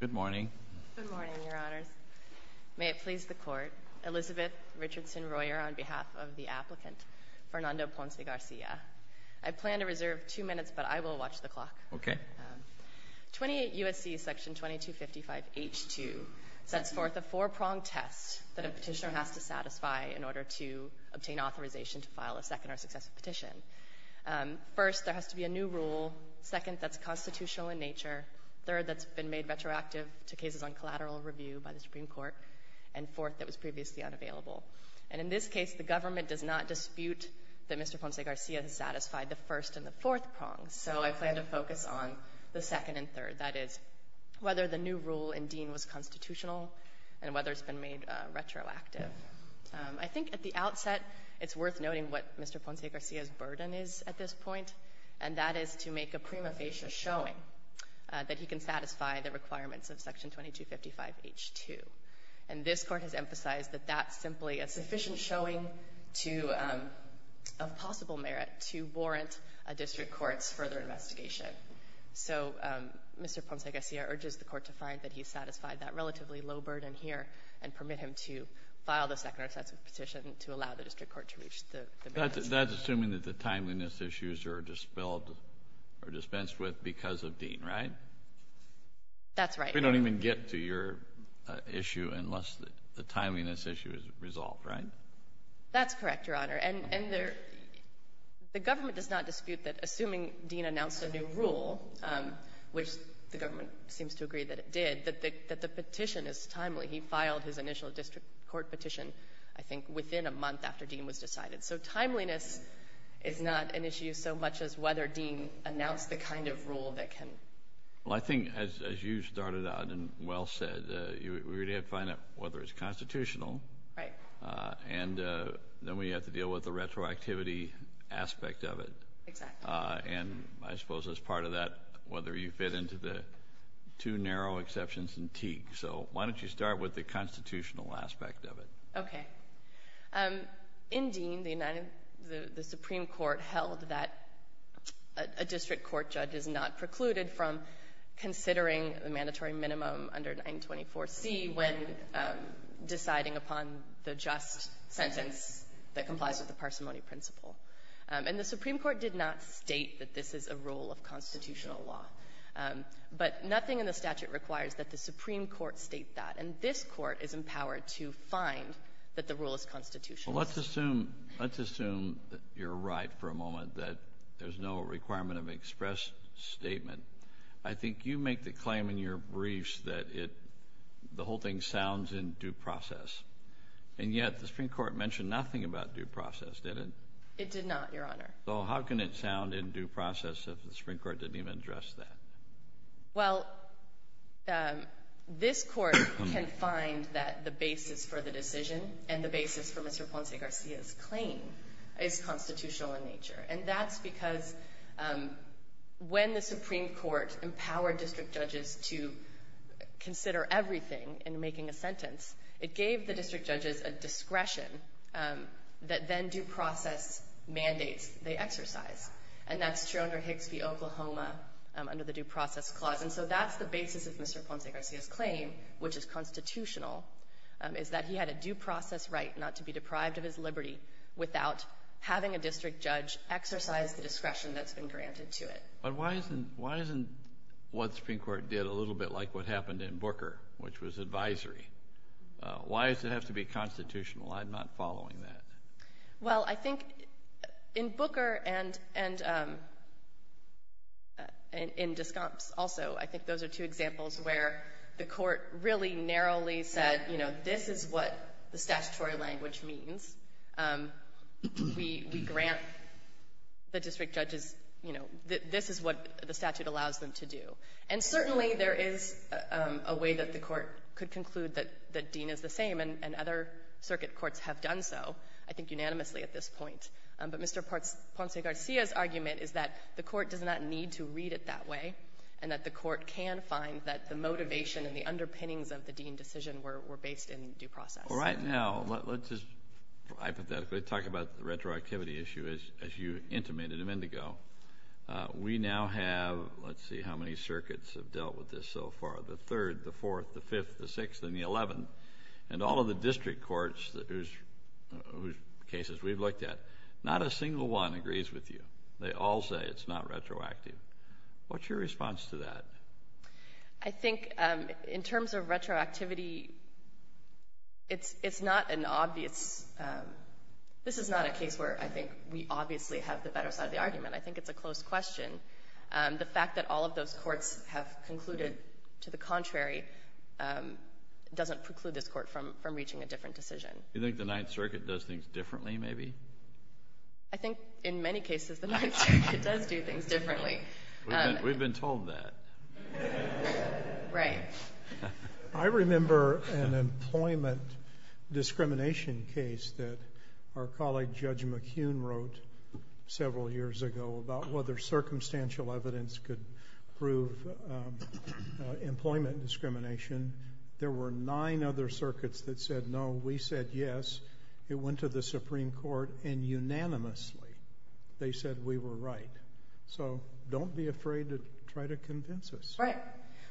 Good morning. Good morning, Your Honors. May it please the Court, Elizabeth Richardson Royer on behalf of the applicant, Fernando Ponce Garcia. I plan to reserve two minutes, but I will watch the clock. Okay. 28 U.S.C. Section 2255 H.2 sets forth a four-pronged test that a petitioner has to satisfy in order to obtain authorization to file a second or successive petition. First, there has to be a new rule. Second, that's constitutional in nature. Third, that's been made retroactive to cases on collateral review by the Supreme Court. And fourth, that was previously unavailable. And in this case, the government does not dispute that Mr. Ponce Garcia has satisfied the first and the fourth prongs. So I plan to focus on the second and third, that is, whether the new rule in Dean was constitutional and whether it's been made retroactive. I think at the outset, it's worth noting what Mr. Ponce Garcia's burden is at this point, and that is to make a prima facie showing that he can satisfy the requirements of Section 2255 H.2. And this Court has emphasized that that's simply a sufficient showing of possible merit to warrant a district court's further investigation. So Mr. Ponce Garcia urges the Court to find that he's satisfied that relatively low burden here and permit him to file the second or second petition to allow the district court to reach the merits. That's assuming that the timeliness issues are dispelled or dispensed with because of Dean, right? That's right. We don't even get to your issue unless the timeliness issue is resolved, right? That's correct, Your Honor. And the government does not dispute that, assuming Dean announced a new rule, which the government seems to agree that it did, that the petition is timely. He filed his initial district court petition, I think, within a month after Dean was decided. So timeliness is not an issue so much as whether Dean announced the kind of rule that can. Well, I think as you started out and well said, we really have to find out whether it's constitutional. Right. And then we have to deal with the retroactivity aspect of it. Exactly. And I suppose as part of that, whether you fit into the two narrow exceptions in Teague. So why don't you start with the constitutional aspect of it? Okay. In Dean, the Supreme Court held that a district court judge is not precluded from considering the mandatory minimum under 924C when deciding upon the just sentence that complies with the parsimony principle. And the Supreme Court did not state that this is a rule of constitutional law. But nothing in the statute requires that the Supreme Court state that. And this Court is empowered to find that the rule is constitutional. Well, let's assume you're right for a moment that there's no requirement of express statement. I think you make the claim in your briefs that the whole thing sounds in due process. And yet the Supreme Court mentioned nothing about due process, did it? It did not, Your Honor. So how can it sound in due process if the Supreme Court didn't even address that? Well, this Court can find that the basis for the decision and the basis for Mr. Ponce Garcia's claim is constitutional in nature. And that's because when the Supreme Court empowered district judges to consider everything in making a sentence, it gave the district judges a discretion that then due process mandates they exercise. And that's true under Hixby, Oklahoma, under the due process clause. And so that's the basis of Mr. Ponce Garcia's claim, which is constitutional, is that he had a due process right not to be deprived of his liberty without having a district judge exercise the discretion that's been granted to it. But why isn't what the Supreme Court did a little bit like what happened in Booker, which was advisory? Why does it have to be constitutional? I'm not following that. Well, I think in Booker and in Descomps also, I think those are two examples where the Court really narrowly said, you know, this is what the statutory language means. We grant the district judges, you know, this is what the statute allows them to do. And certainly there is a way that the Court could conclude that Dean is the same, and other circuit courts have done so, I think unanimously at this point. But Mr. Ponce Garcia's argument is that the Court does not need to read it that way and that the Court can find that the motivation and the underpinnings of the Dean decision were based in due process. Well, right now, let's just hypothetically talk about the retroactivity issue, as you intimated in Indigo. We now have, let's see how many circuits have dealt with this so far, the 3rd, the 4th, the 5th, the 6th, and the 11th. And all of the district courts whose cases we've looked at, not a single one agrees with you. They all say it's not retroactive. What's your response to that? I think in terms of retroactivity, it's not an obvious – this is not a case where I think we obviously have the better side of the argument. I think it's a close question. The fact that all of those courts have concluded to the contrary doesn't preclude this Court from reaching a different decision. You think the Ninth Circuit does things differently, maybe? I think in many cases the Ninth Circuit does do things differently. We've been told that. Right. I remember an employment discrimination case that our colleague Judge McHugh wrote several years ago about whether circumstantial evidence could prove employment discrimination. There were nine other circuits that said no. We said yes. It went to the Supreme Court, and unanimously they said we were right. So don't be afraid to try to convince us. Right.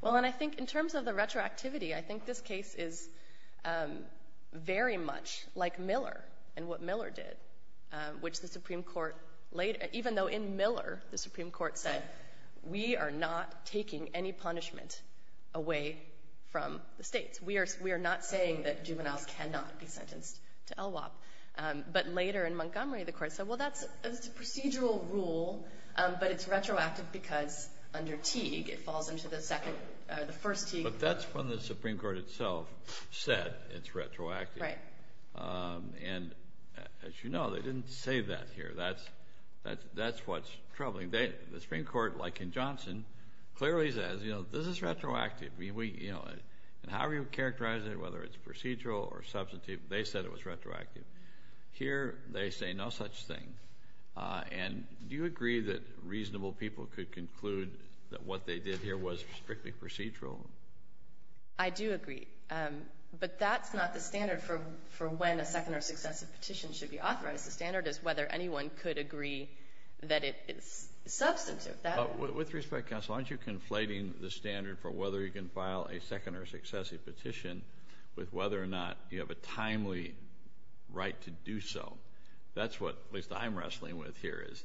Well, and I think in terms of the retroactivity, I think this case is very much like Miller and what Miller did, which the Supreme Court – even though in Miller the Supreme Court said we are not taking any punishment away from the states. We are not saying that juveniles cannot be sentenced to LWOP. But later in Montgomery the Court said, well, that's a procedural rule, but it's retroactive because under Teague it falls into the second – the first Teague. But that's when the Supreme Court itself said it's retroactive. Right. And as you know, they didn't say that here. That's what's troubling. The Supreme Court, like in Johnson, clearly says, you know, this is retroactive. I mean, we – and however you characterize it, whether it's procedural or substantive, they said it was retroactive. Here they say no such thing. And do you agree that reasonable people could conclude that what they did here was strictly procedural? I do agree. But that's not the standard for when a second or successive petition should be authorized. The standard is whether anyone could agree that it is substantive. With respect, counsel, aren't you conflating the standard for whether you can file a second or successive petition with whether or not you have a timely right to do so? That's what at least I'm wrestling with here is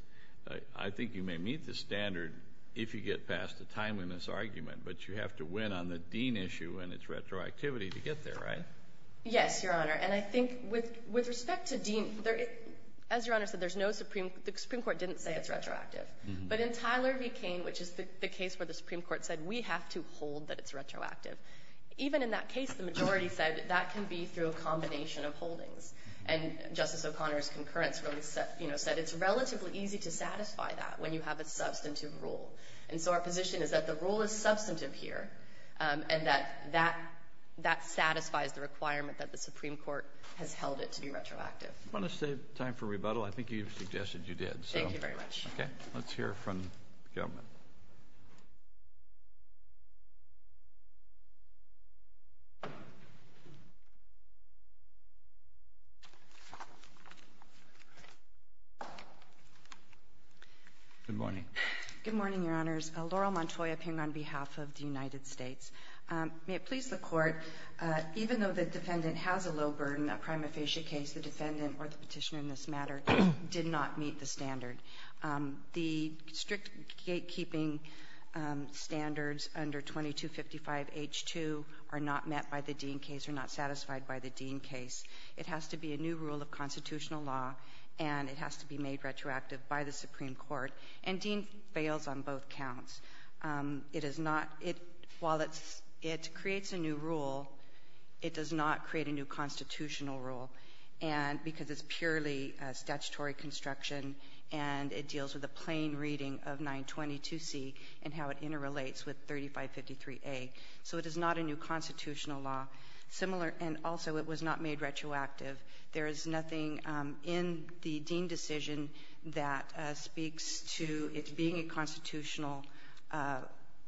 I think you may meet the standard if you get past the timeliness argument, but you have to win on the Dean issue and its retroactivity to get there, right? Yes, Your Honor. And I think with respect to Dean, as Your Honor said, there's no Supreme – the Supreme Court didn't say it's retroactive. But in Tyler v. Cain, which is the case where the Supreme Court said we have to hold that it's retroactive, even in that case, the majority said that can be through a combination of holdings. And Justice O'Connor's concurrence really, you know, said it's relatively easy to satisfy that when you have a substantive rule. And so our position is that the rule is substantive here and that that satisfies the requirement that the Supreme Court has held it to be retroactive. You want to save time for rebuttal? I think you suggested you did. Thank you very much. Okay. Let's hear from the government. Good morning. Good morning, Your Honors. Laurel Montoy up here on behalf of the United States. May it please the Court, even though the defendant has a low burden, a prima facie case, the defendant or the Petitioner in this matter did not meet the standard. The strict gatekeeping standards under 2255H2 are not met by the Dean case, are not satisfied by the Dean case. It has to be a new rule of constitutional law, and it has to be made retroactive by the Supreme Court. And Dean fails on both counts. It is not — while it creates a new rule, it does not create a new constitutional rule because it's purely statutory construction and it deals with a plain reading of 922C and how it interrelates with 3553A. So it is not a new constitutional law. Similar — and also it was not made retroactive. There is nothing in the Dean decision that speaks to it being a constitutional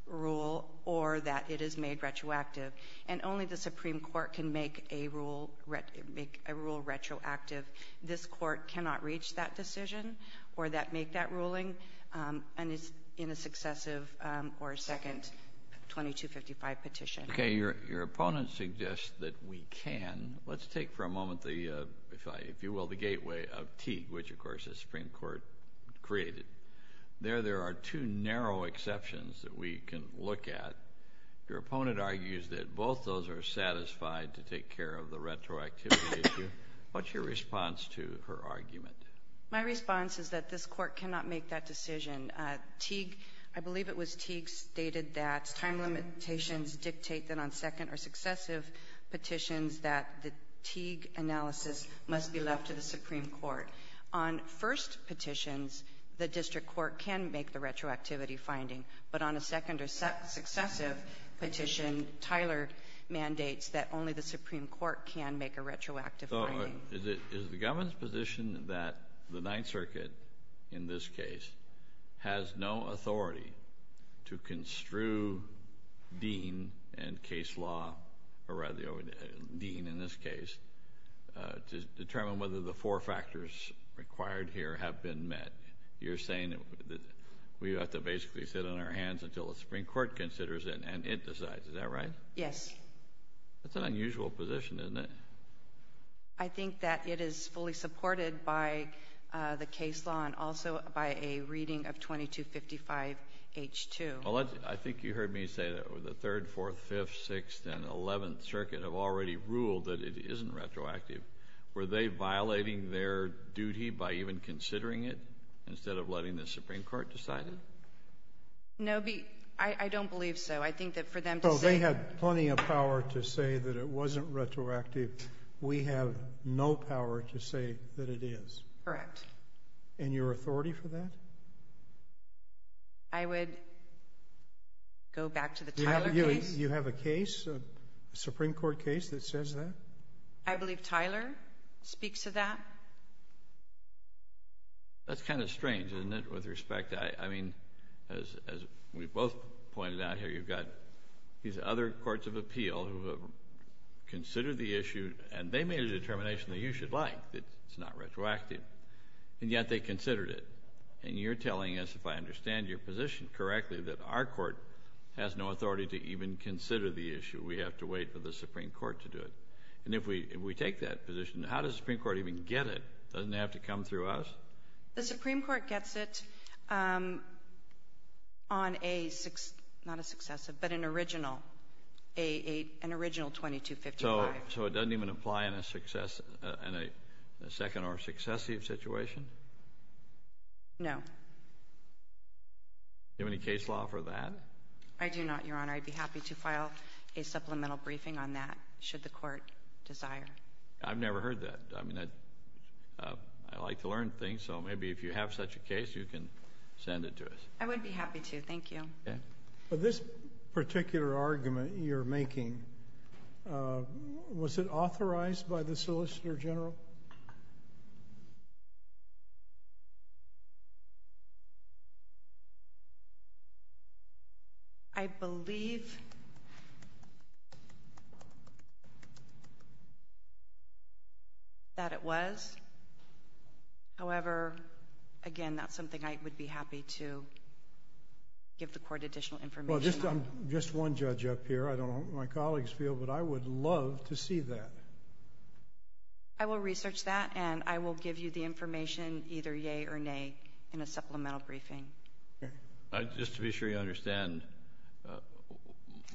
rule or that it is made retroactive. And only the Supreme Court can make a rule — make a rule retroactive. This Court cannot reach that decision or that — make that ruling in a successive or second 2255 petition. Okay. Your opponent suggests that we can. Let's take for a moment the — if I — if you will, the gateway of Teague, which, of course, the Supreme Court created. There there are two narrow exceptions that we can look at. Your opponent argues that both those are satisfied to take care of the retroactivity issue. What's your response to her argument? My response is that this Court cannot make that decision. Teague — I believe it was Teague stated that time limitations dictate that on second or successive petitions that the Teague analysis must be left to the Supreme Court. On first petitions, the district court can make the retroactivity finding. But on a second or successive petition, Tyler mandates that only the Supreme Court can make a retroactive finding. So is it — is the government's position that the Ninth Circuit, in this case, has no authority to construe Dean and case law — or rather, Dean, in this case, to determine whether the four factors required here have been met? You're saying that we have to basically sit on our hands until the Supreme Court considers it and it decides. Is that right? Yes. That's an unusual position, isn't it? I think that it is fully supported by the case law and also by a reading of 2255H2. Well, I think you heard me say that the Third, Fourth, Fifth, Sixth, and Eleventh Circuit have already ruled that it isn't retroactive. Were they violating their duty by even considering it instead of letting the Supreme Court decide it? No, I don't believe so. I think that for them to say — Well, they had plenty of power to say that it wasn't retroactive. We have no power to say that it is. Correct. And your authority for that? I would go back to the Tyler case. You have a case, a Supreme Court case, that says that? I believe Tyler speaks to that. That's kind of strange, isn't it, with respect? I mean, as we both pointed out here, you've got these other courts of appeal who have considered the issue and they made a determination that you should like, that it's not retroactive. And yet they considered it. And you're telling us, if I understand your position correctly, that our court has no authority to even consider the issue. We have to wait for the Supreme Court to do it. And if we take that position, how does the Supreme Court even get it? Doesn't it have to come through us? The Supreme Court gets it on a — not a successive, but an original, an original 2255. So it doesn't even apply in a second or successive situation? No. Do you have any case law for that? I do not, Your Honor. I'd be happy to file a supplemental briefing on that, should the court desire. I've never heard that. I mean, I like to learn things. So maybe if you have such a case, you can send it to us. I would be happy to. Thank you. Okay. This particular argument you're making, was it authorized by the Solicitor General? I believe that it was. However, again, that's something I would be happy to give the court additional information on. Well, I'm just one judge up here. I don't know what my colleagues feel, but I would love to see that. I will research that, and I will give you the information, either yea or nay, in a supplemental briefing. Okay. Just to be sure you understand,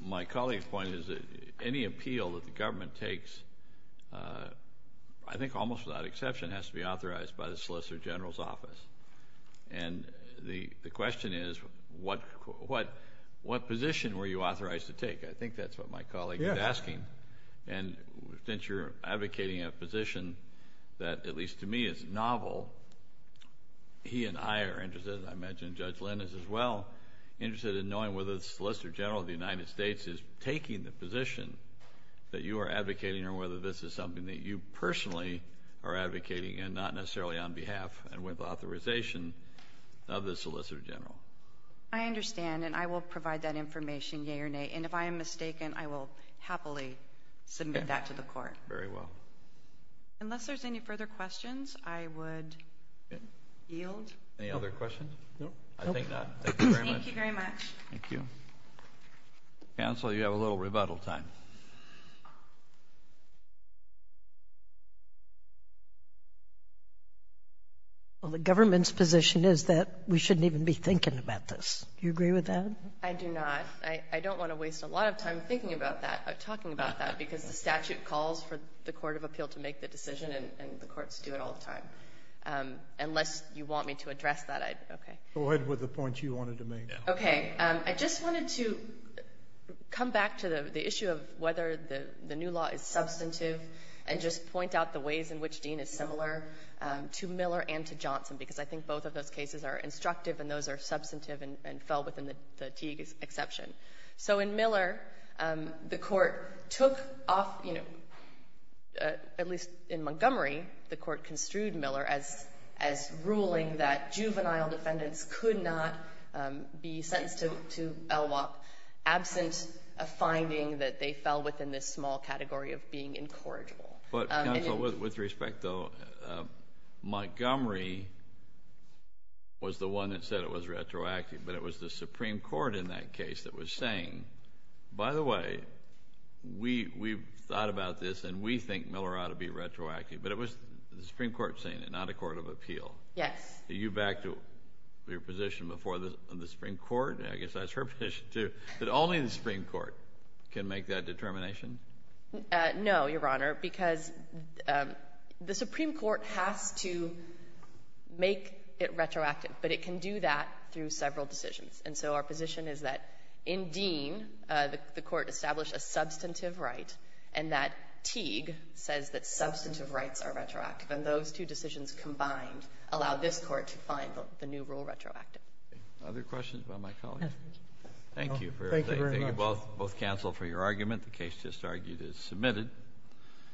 my colleague's point is that any appeal that the government takes, I think almost without exception, has to be authorized by the Solicitor General's office. And the question is, what position were you authorized to take? Yes. And since you're advocating a position that, at least to me, is novel, he and I are interested, and I imagine Judge Lynn is as well, interested in knowing whether the Solicitor General of the United States is taking the position that you are advocating or whether this is something that you personally are advocating and not necessarily on behalf and with authorization of the Solicitor General. I understand, and I will provide that information, yea or nay. And if I am mistaken, I will happily submit that to the court. Very well. Unless there's any further questions, I would yield. Any other questions? No. I think not. Thank you very much. Thank you very much. Thank you. Counsel, you have a little rebuttal time. Well, the government's position is that we shouldn't even be thinking about this. Do you agree with that? I do not. I don't want to waste a lot of time thinking about that or talking about that because the statute calls for the court of appeal to make the decision, and the courts do it all the time. Unless you want me to address that, okay. Go ahead with the points you wanted to make. Okay. I just wanted to come back to the issue of whether the new law is substantive and just point out the ways in which Dean is similar to Miller and to Johnson, because I think both of those cases are instructive and those are substantive and fell within the Teague exception. So in Miller, the court took off, you know, at least in Montgomery, the court construed Miller as ruling that juvenile defendants could not be sentenced to LWOP absent a finding that they fell within this small category of being incorrigible. Counsel, with respect though, Montgomery was the one that said it was retroactive, but it was the Supreme Court in that case that was saying, by the way, we've thought about this and we think Miller ought to be retroactive. But it was the Supreme Court saying it, not a court of appeal. Yes. Are you back to your position before the Supreme Court? I guess that's her position too, that only the Supreme Court can make that determination? No, Your Honor, because the Supreme Court has to make it retroactive, but it can do that through several decisions. And so our position is that in Dean, the court established a substantive right, and that Teague says that substantive rights are retroactive. And those two decisions combined allow this Court to find the new rule retroactive. Other questions about my colleague? Thank you. Thank you very much. Thank you both, counsel, for your argument. The case just argued is submitted.